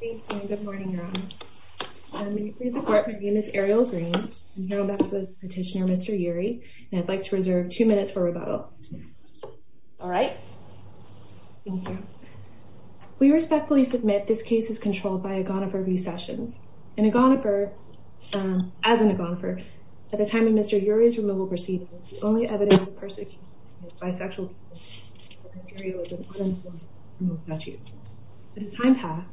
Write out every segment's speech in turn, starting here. Good morning, Your Honor. May you please support my name is Ariel Green. I'm here on behalf of the petitioner, Mr. Urie, and I'd like to reserve two minutes for rebuttal. All right. We respectfully submit this case is controlled by Agonifer v. Sessions. And Agonifer, as an Agonifer, at the time of Mr. Urie's removal proceedings, the only evidence of persecution by bisexual people in this area was an unenforced removal statute. As time passed...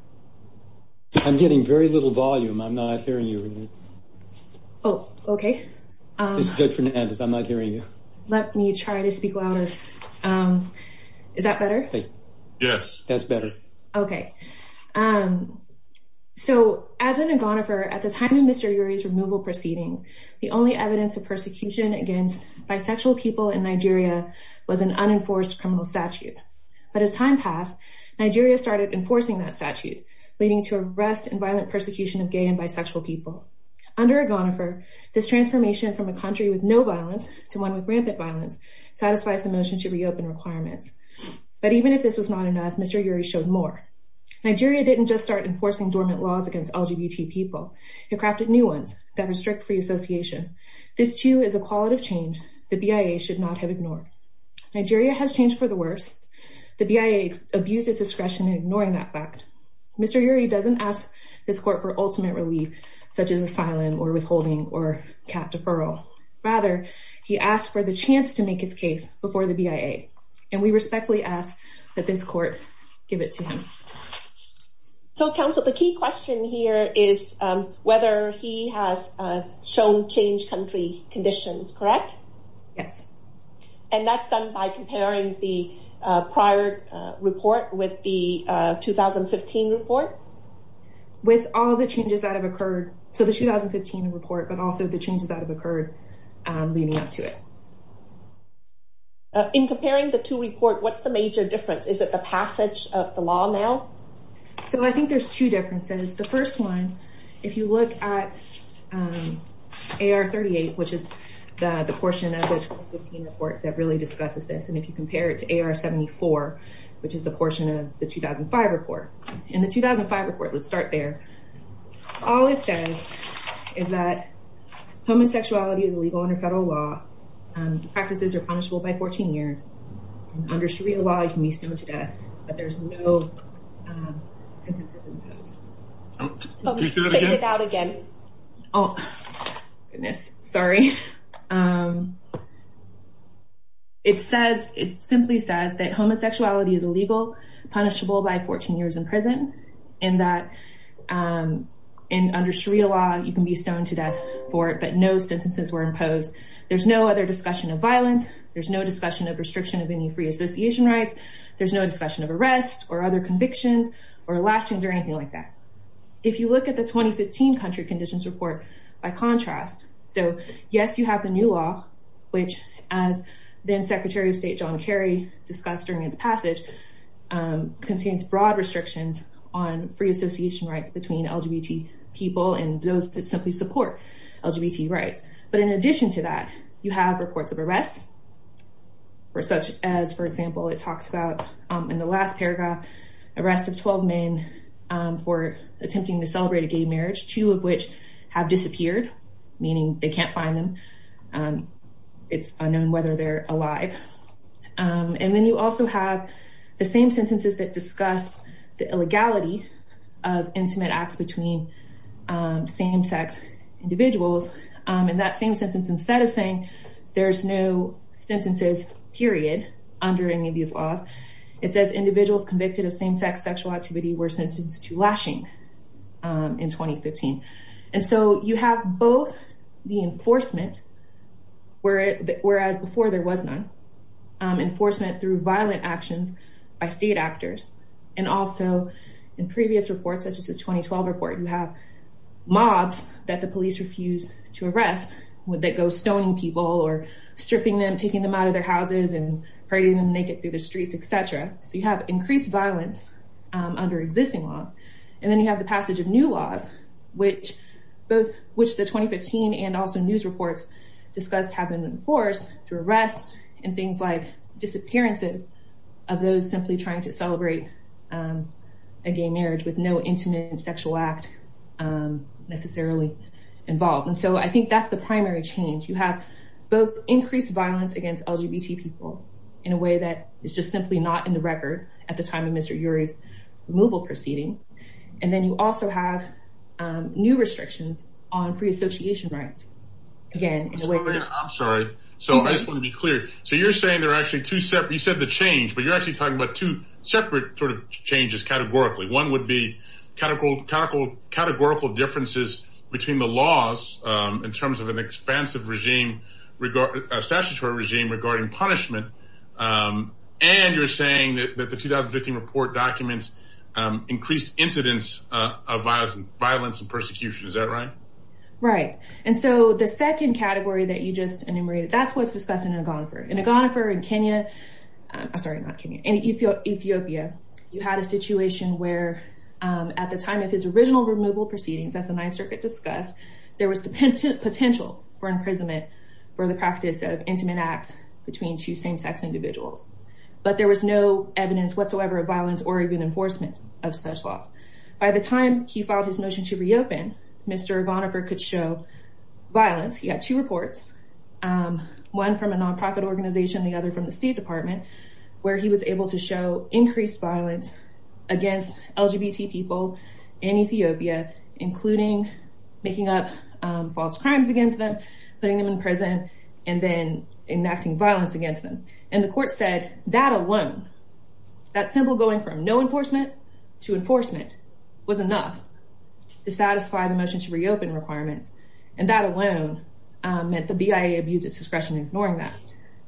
I'm getting very little volume. I'm not hearing you. Oh, okay. This is Judge Fernandez. I'm not hearing you. Let me try to speak louder. Is that better? Yes, that's better. Okay. So, as an Agonifer, at the time of Mr. Urie's removal proceedings, the only evidence of persecution against bisexual people in Nigeria was an unenforced criminal statute. But as time passed, Nigeria started enforcing that statute, leading to arrest and violent persecution of gay and bisexual people. Under Agonifer, this transformation from a country with no violence to one with rampant violence satisfies the motion to reopen requirements. But even if this was not enough, Mr. Urie showed more. Nigeria didn't just start enforcing dormant laws against LGBT people. It crafted new ones that restrict free association. This, too, is a qualitative change the BIA should not have ignored. Nigeria has changed for the worse. The BIA abused its discretion in ignoring that fact. Mr. Urie doesn't ask this court for ultimate relief, such as asylum or withholding or cap deferral. Rather, he asked for the chance to make his case before the BIA. And we respectfully ask that this court give it to him. So, counsel, the key question here is whether he has shown change country conditions, correct? Yes. And that's done by comparing the prior report with the 2015 report? With all the changes that have occurred, so the 2015 report, but also the changes that have occurred leading up to it. In comparing the two reports, what's the major difference? Is it the passage of the law now? So I think there's two differences. The first one, if you look at AR38, which is the portion of the 2015 report that really discusses this, and if you compare it to AR74, which is the portion of the 2005 report. In the 2005 report, let's start there, all it says is that homosexuality is illegal under federal law. The practices are punishable by 14 years. Under Sharia law, you can be stoned to death, but there's no sentences imposed. Can you say that again? Oh, goodness, sorry. It simply says that homosexuality is illegal, punishable by 14 years in prison, and that under Sharia law, you can be stoned to death for it, but no sentences were imposed. There's no other discussion of violence. There's no discussion of restriction of any free association rights. There's no discussion of arrests or other convictions or lashings or anything like that. If you look at the 2015 country conditions report, by contrast, so yes, you have the new law, which, as then-Secretary of State John Kerry discussed during his passage, contains broad restrictions on free association rights between LGBT people and those that simply support LGBT rights, but in addition to that, you have reports of arrests, such as, for example, it talks about in the last paragraph, arrests of 12 men for attempting to celebrate a gay marriage, two of which have disappeared, meaning they can't find them, it's unknown whether they're alive. And then you also have the same sentences that discuss the illegality of intimate acts between same-sex individuals, and that same sentence, instead of saying there's no sentences, period, under any of these laws, it says individuals convicted of same-sex sexual activity were sentenced to lashing in 2015. And so you have both the enforcement, whereas before there was none, enforcement through violent actions by state actors, and also in previous reports, such as the 2012 report, you have mobs that the police refuse to arrest, that go stoning people or stripping them, taking them out of their houses and parading them naked through the streets, etc. So you have increased violence under existing laws. And then you have the passage of new laws, which the 2015 and also news reports discussed have been enforced through arrests and things like disappearances of those simply trying to celebrate a gay marriage with no intimate sexual act necessarily involved. And so I think that's the primary change. You have both increased violence against LGBT people in a way that is just simply not in the record at the time of Mr. Urey's removal proceeding. And then you also have new restrictions on free association rights. I'm sorry. So I just want to be clear. So you're saying there are actually two separate, you said the change, but you're actually talking about two separate sort of changes categorically. One would be categorical differences between the laws in terms of an expansive regime, a statutory regime regarding punishment. And you're saying that the 2015 report documents increased incidence of violence and persecution. Is that right? Right. And so the second category that you just enumerated, that's what's discussed in Agonfor. In Agonfor in Kenya, sorry, not Kenya, in Ethiopia, you had a situation where at the time of his original removal proceedings, as the Ninth Circuit discussed, there was the potential for imprisonment for the practice of intimate acts between two same-sex individuals. But there was no evidence whatsoever of violence or even enforcement of such laws. By the time he filed his motion to reopen, Mr. Agonfor could show violence. He had two reports, one from a nonprofit organization, the other from the State Department, where he was able to show increased violence against LGBT people in Ethiopia, including making up false crimes against them, putting them in prison and then enacting violence against them. And the court said that alone, that simple going from no enforcement to enforcement was enough to satisfy the motion to reopen requirements. And that alone meant the BIA abused its discretion in ignoring that.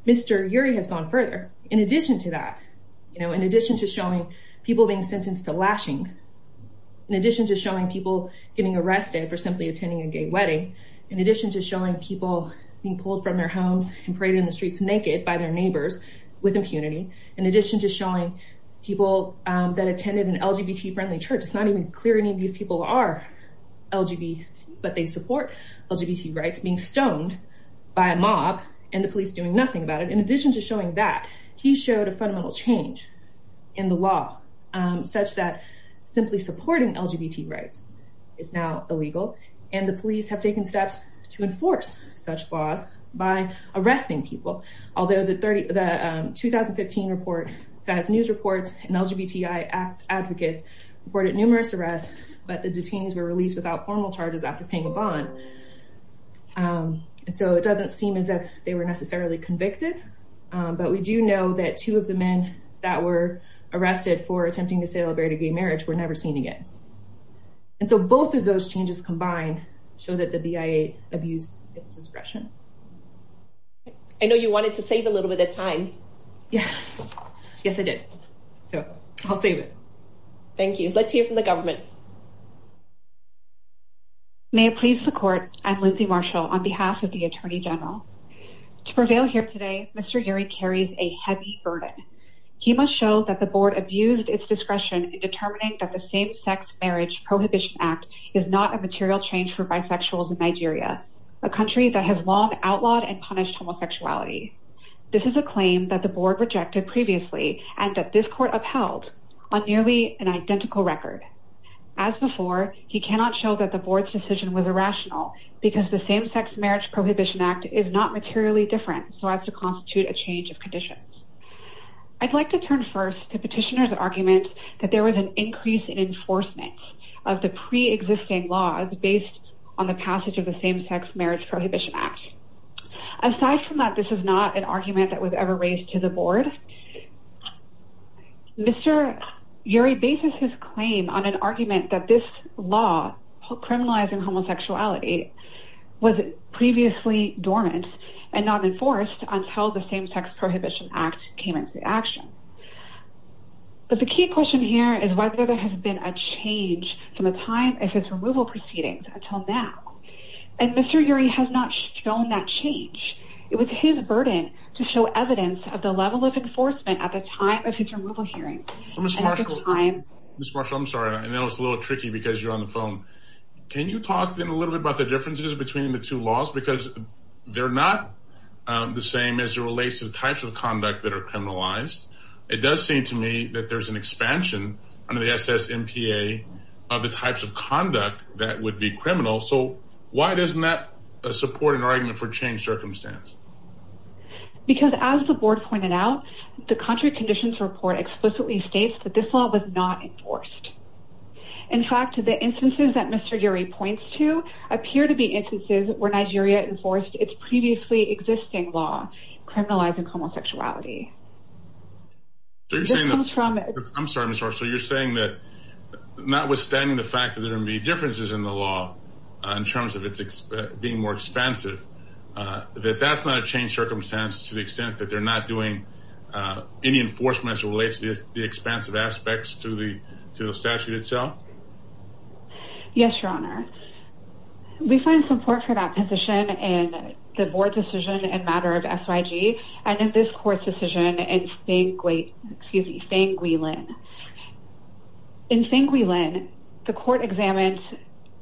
Mr. Urey has gone further. In addition to that, you know, in addition to showing people being sentenced to lashing, in addition to showing people getting arrested for simply attending a gay wedding, in addition to showing people being pulled from their homes and paraded in the streets naked by their neighbors with impunity, in addition to showing people that attended an LGBT friendly church, it's not even clear any of these people are LGBT, but they support LGBT rights, being stoned by a mob and the police doing nothing about it. In addition to showing that, he showed a fundamental change in the law such that simply supporting LGBT rights is now illegal. And the police have taken steps to enforce such laws by arresting people. Although the 2015 report says news reports and LGBTI advocates reported numerous arrests, but the detainees were released without formal charges after paying a bond. So it doesn't seem as if they were necessarily convicted. But we do know that two of the men that were arrested for attempting to celebrate a gay marriage were never seen again. And so both of those changes combined show that the BIA abused its discretion. I know you wanted to save a little bit of time. Yeah. Yes, I did. So I'll save it. Thank you. Let's hear from the government. May it please the court. I'm Lindsay Marshall on behalf of the Attorney General. To prevail here today, Mr. Geary carries a heavy burden. He must show that the board abused its discretion in determining that the same-sex marriage Prohibition Act is not a material change for bisexuals in Nigeria, a country that has long outlawed and punished homosexuality. This is a claim that the board rejected previously and that this court upheld on nearly an identical record. As before, he cannot show that the board's decision was irrational because the same-sex marriage Prohibition Act is not materially different, so as to constitute a change of conditions. I'd like to turn first to petitioner's argument that there was an increase in enforcement of the pre-existing laws based on the passage of the same-sex marriage Prohibition Act. Aside from that, this is not an argument that was ever raised to the board. Mr. Geary bases his claim on an argument that this law criminalizing homosexuality was previously dormant and not enforced until the same-sex marriage Prohibition Act came into action. But the key question here is whether there has been a change from the time of his removal proceedings until now. And Mr. Geary has not shown that change. It was his burden to show evidence of the level of enforcement at the time of his removal hearing. Ms. Marshall, I'm sorry, I know it's a little tricky because you're on the phone. Can you talk a little bit about the differences between the two laws? Because they're not the same as it relates to the types of conduct that are criminalized. It does seem to me that there's an expansion under the SSMPA of the types of conduct that would be criminal. So why doesn't that support an argument for change circumstance? Because as the board pointed out, the contrary conditions report explicitly states that this law was not enforced. In fact, the instances that Mr. Geary points to appear to be instances where Nigeria enforced its previously existing law criminalizing homosexuality. I'm sorry, Ms. Marshall. You're saying that notwithstanding the fact that there are going to be differences in the law in terms of it being more expansive, that that's not a change circumstance to the extent that they're not doing any enforcement as it relates to the expansive aspects to the statute itself? Yes, Your Honor. We find support for that position in the board's decision in matter of SIG and in this court's decision in Feng Guilin. In Feng Guilin, the court examined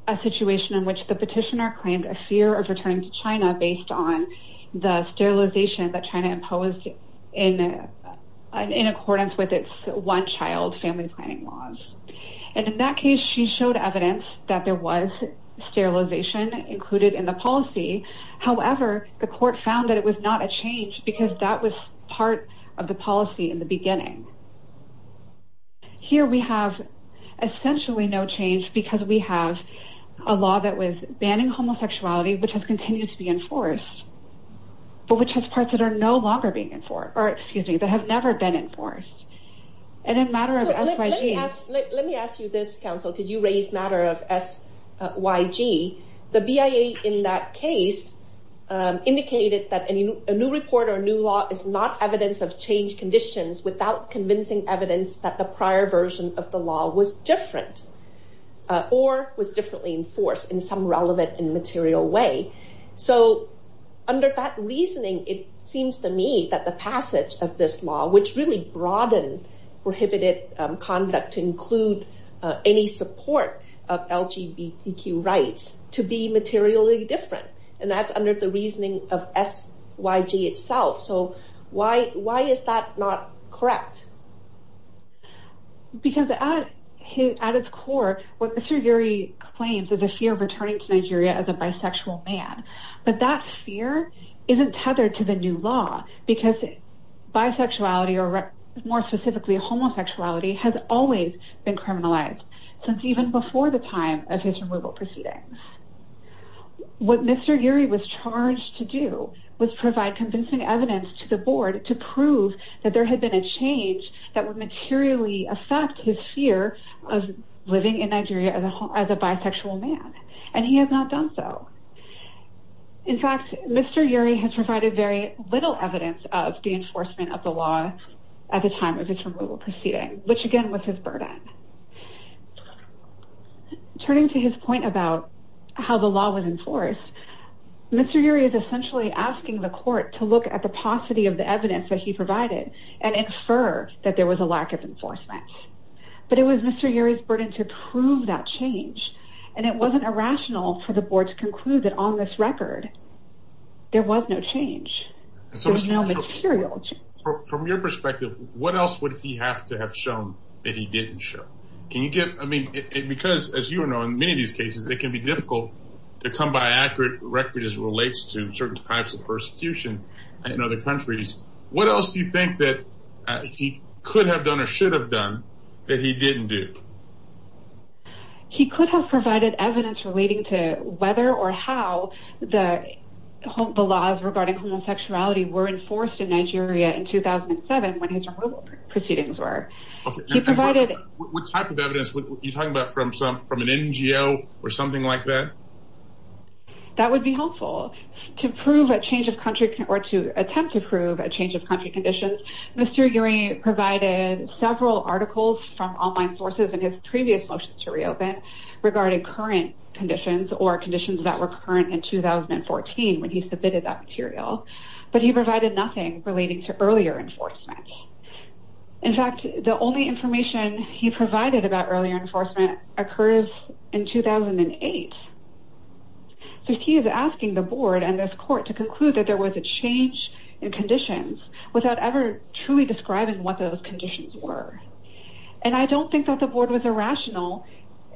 a situation in which the petitioner claimed a fear of returning to China based on the sterilization that China imposed in accordance with its one-child family planning laws. And in that case, she showed evidence that there was sterilization included in the policy. However, the court found that it was not a change because that was part of the policy in the beginning. Here we have essentially no change because we have a law that was banning homosexuality, which has continued to be enforced, but which has parts that are no longer being enforced, or excuse me, that have never been enforced. And in matter of SIG... Let me ask you this, counsel. Could you raise matter of SIG? The BIA in that case indicated that a new report or new law is not evidence of change conditions without convincing evidence that the prior version of the law was different, or was differently enforced in some relevant and material way. So under that reasoning, it seems to me that the passage of this law, which really broadened prohibited conduct to include any support of LGBTQ rights to be materially different. And that's under the reasoning of SYG itself. So why is that not correct? Because at its core, what Mr. Geary claims is a fear of returning to Nigeria as a bisexual man. But that fear isn't tethered to the new law because bisexuality, or more specifically homosexuality, has always been criminalized since even before the time of his removal proceedings. What Mr. Geary was charged to do was provide convincing evidence to the board to prove that there had been a change that would materially affect his fear of living in Nigeria as a bisexual man. And he has not done so. In fact, Mr. Geary has provided very little evidence of the enforcement of the law at the time of his removal proceeding, which again was his burden. Turning to his point about how the law was enforced, Mr. Geary is essentially asking the court to look at the paucity of the evidence that he provided and infer that there was a lack of enforcement. But it was Mr. Geary's burden to prove that change, and it wasn't irrational for the board to conclude that on this record, there was no change. There was no material change. From your perspective, what else would he have to have shown that he didn't show? Because, as you know, in many of these cases, it can be difficult to come by accurate records as it relates to certain types of persecution in other countries. What else do you think that he could have done or should have done that he didn't do? He could have provided evidence relating to whether or how the laws regarding homosexuality were enforced in Nigeria in 2007 when his removal proceedings were. What type of evidence? Are you talking about from an NGO or something like that? That would be helpful. To prove a change of country or to attempt to prove a change of country conditions, Mr. Geary provided several articles from online sources in his previous motions to reopen regarding current conditions or conditions that were current in 2014 when he submitted that material. But he provided nothing relating to earlier enforcement. In fact, the only information he provided about earlier enforcement occurs in 2008. He is asking the board and this court to conclude that there was a change in conditions without ever truly describing what those conditions were. And I don't think that the board was irrational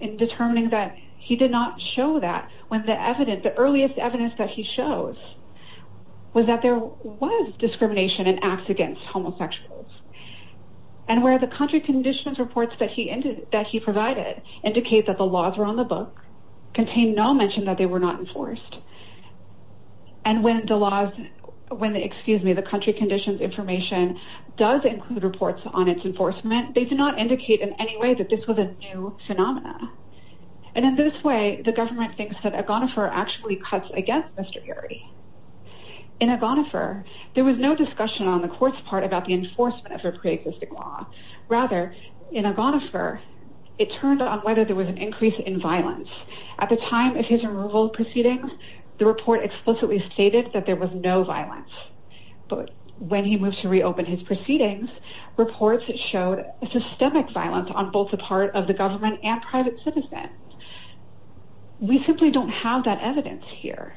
in determining that he did not show that when the earliest evidence that he shows was that there was discrimination in acts against homosexuals. And where the country conditions reports that he provided indicate that the laws were on the book contain no mention that they were not enforced. And when the country conditions information does include reports on its enforcement, they do not indicate in any way that this was a new phenomena. And in this way, the government thinks that Agonifer actually cuts against Mr. Geary. In Agonifer, there was no discussion on the court's part about the enforcement of a pre-existing law. Rather, in Agonifer, it turned out whether there was an increase in violence. At the time of his removal proceedings, the report explicitly stated that there was no violence. But when he moved to reopen his proceedings, reports showed systemic violence on both the part of the government and private citizens. We simply don't have that evidence here.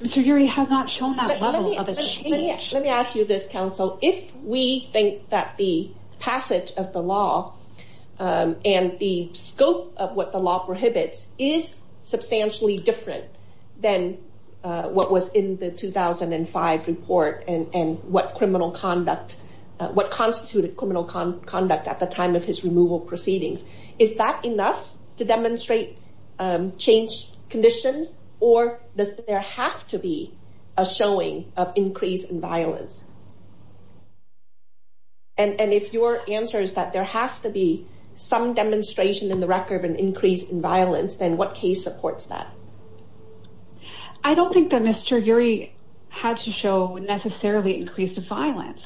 Mr. Geary has not shown that level of exchange. Let me ask you this, counsel. If we think that the passage of the law and the scope of what the law prohibits is substantially different than what was in the 2005 report and what constituted criminal conduct at the time of his removal proceedings. Is that enough to demonstrate change conditions? Or does there have to be a showing of increase in violence? And if your answer is that there has to be some demonstration in the record of an increase in violence, then what case supports that? I don't think that Mr. Geary had to show necessarily increased violence.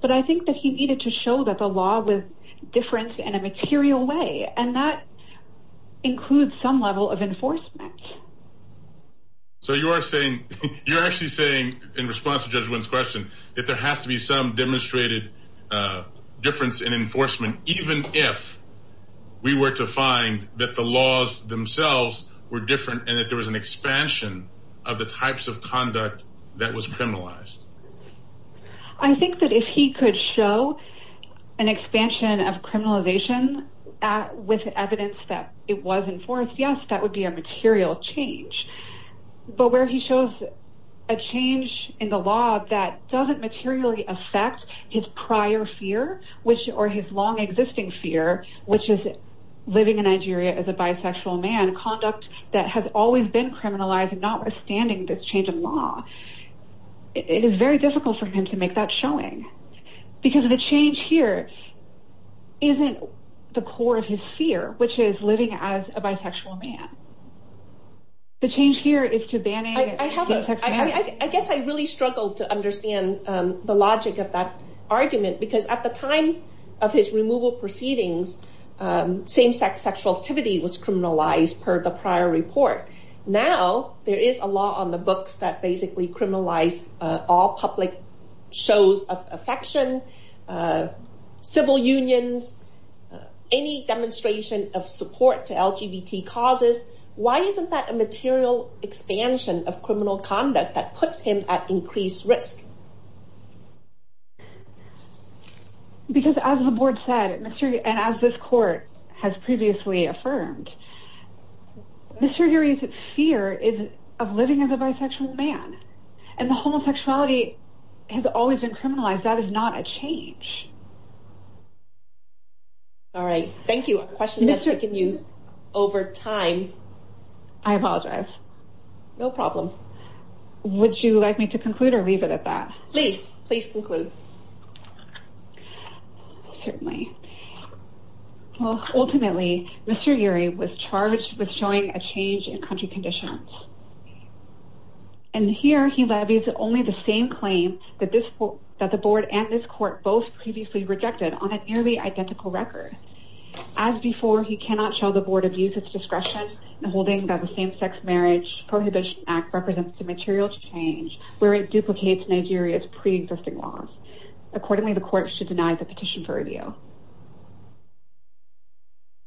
But I think that he needed to show that the law was different in a material way. And that includes some level of enforcement. So you are saying, you're actually saying in response to Judge Wynn's question, that there has to be some demonstrated difference in enforcement, even if we were to find that the laws themselves were different and that there was an expansion of the types of conduct that was criminalized. I think that if he could show an expansion of criminalization with evidence that it was enforced, yes, that would be a material change. But where he shows a change in the law that doesn't materially affect his prior fear or his long existing fear, which is living in Nigeria as a bisexual man, conduct that has always been criminalized and notwithstanding this change in law. It is very difficult for him to make that showing. Because the change here isn't the core of his fear, which is living as a bisexual man. The change here is to ban it. I guess I really struggled to understand the logic of that argument, because at the time of his removal proceedings, same-sex sexual activity was criminalized per the prior report. Now, there is a law on the books that basically criminalized all public shows of affection, civil unions, any demonstration of support to LGBT causes. Why isn't that a material expansion of criminal conduct that puts him at increased risk? Because as the board said, and as this court has previously affirmed, Mr. Uri's fear is of living as a bisexual man. And the homosexuality has always been criminalized. That is not a change. All right. Thank you. A question has taken you over time. I apologize. No problem. Would you like me to conclude or leave it at that? Please. Please conclude. Certainly. Well, ultimately, Mr. Uri was charged with showing a change in country conditions. And here he levies only the same claim that the board and this court both previously rejected on a nearly identical record. As before, he cannot show the board abuses discretion in holding that the Same-Sex Marriage Prohibition Act represents a material change where it duplicates Nigeria's pre-existing laws. Accordingly, the court should deny the petition for review.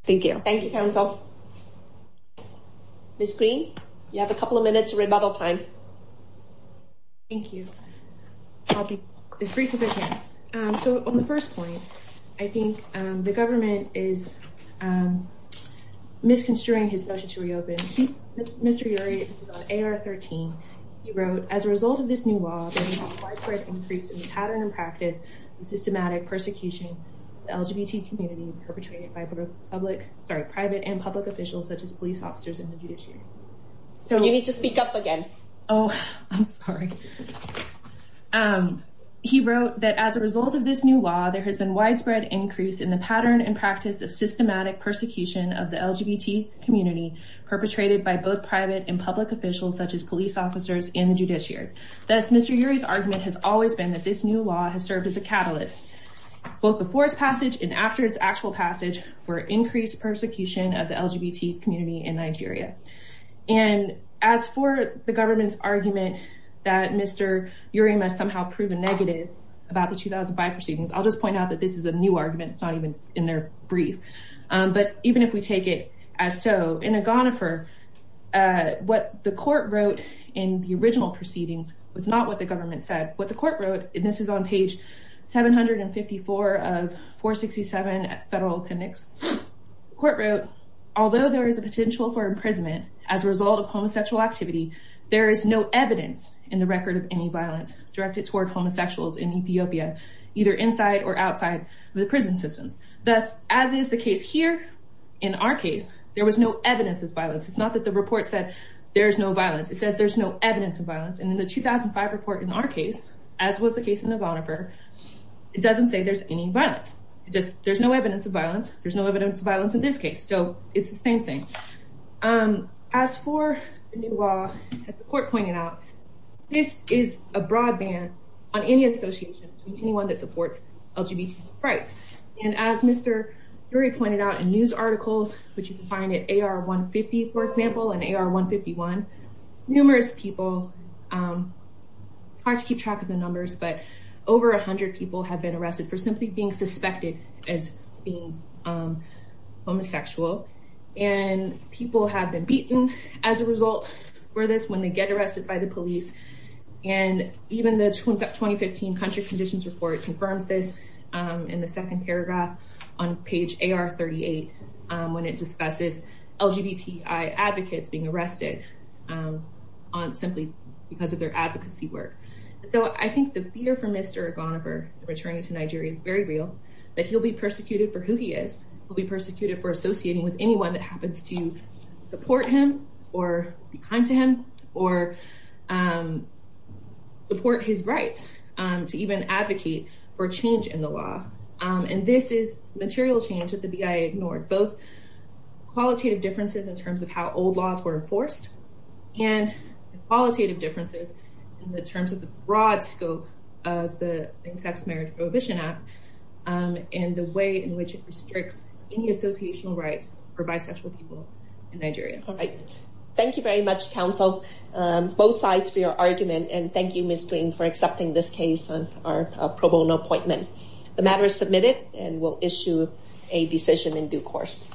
Thank you. Thank you, counsel. Ms. Green, you have a couple of minutes of rebuttal time. Thank you. I'll be as brief as I can. So, on the first point, I think the government is misconstruing his motion to reopen. Mr. Uri, on AR-13, he wrote, As a result of this new law, there has been a widespread increase in the pattern and practice of systematic persecution of the LGBT community, perpetrated by private and public officials, such as police officers and the judiciary. You need to speak up again. Oh, I'm sorry. He wrote, As a result of this new law, there has been a widespread increase in the pattern and practice of systematic persecution of the LGBT community, perpetrated by both private and public officials, such as police officers and the judiciary. Thus, Mr. Uri's argument has always been that this new law has served as a catalyst, both before its passage and after its actual passage, for increased persecution of the LGBT community in Nigeria. And as for the government's argument that Mr. Uri must somehow prove a negative about the 2005 proceedings, I'll just point out that this is a new argument. It's not even in their brief. But even if we take it as so, in Agonifer, what the court wrote in the original proceedings was not what the government said. What the court wrote, and this is on page 754 of 467 Federal Appendix, the court wrote, Although there is a potential for imprisonment as a result of homosexual activity, there is no evidence in the record of any violence directed toward homosexuals in Ethiopia, either inside or outside the prison systems. Thus, as is the case here, in our case, there was no evidence of violence. It's not that the report said there's no violence. It says there's no evidence of violence. And in the 2005 report, in our case, as was the case in Agonifer, it doesn't say there's any violence. There's no evidence of violence. There's no evidence of violence in this case. So it's the same thing. As for the new law, as the court pointed out, this is a broad ban on any association with anyone that supports LGBT rights. And as Mr. Uri pointed out in news articles, which you can find at AR-150, for example, and AR-151, numerous people, hard to keep track of the numbers, but over 100 people have been arrested for simply being suspected as being homosexual. And people have been beaten as a result for this when they get arrested by the police. And even the 2015 country conditions report confirms this in the second paragraph on page AR-38, when it discusses LGBTI advocates being arrested simply because of their advocacy work. So I think the fear for Mr. Agonifer, returning to Nigeria, is very real. That he'll be persecuted for who he is. He'll be persecuted for associating with anyone that happens to support him or be kind to him or support his rights to even advocate for change in the law. And this is material change that the BIA ignored, both qualitative differences in terms of how old laws were enforced and qualitative differences in terms of the broad scope of the same-sex marriage prohibition act and the way in which it restricts any associational rights for bisexual people in Nigeria. Thank you very much, counsel, both sides for your argument. And thank you, Ms. Green, for accepting this case on our pro bono appointment. The matter is submitted and we'll issue a decision in due course.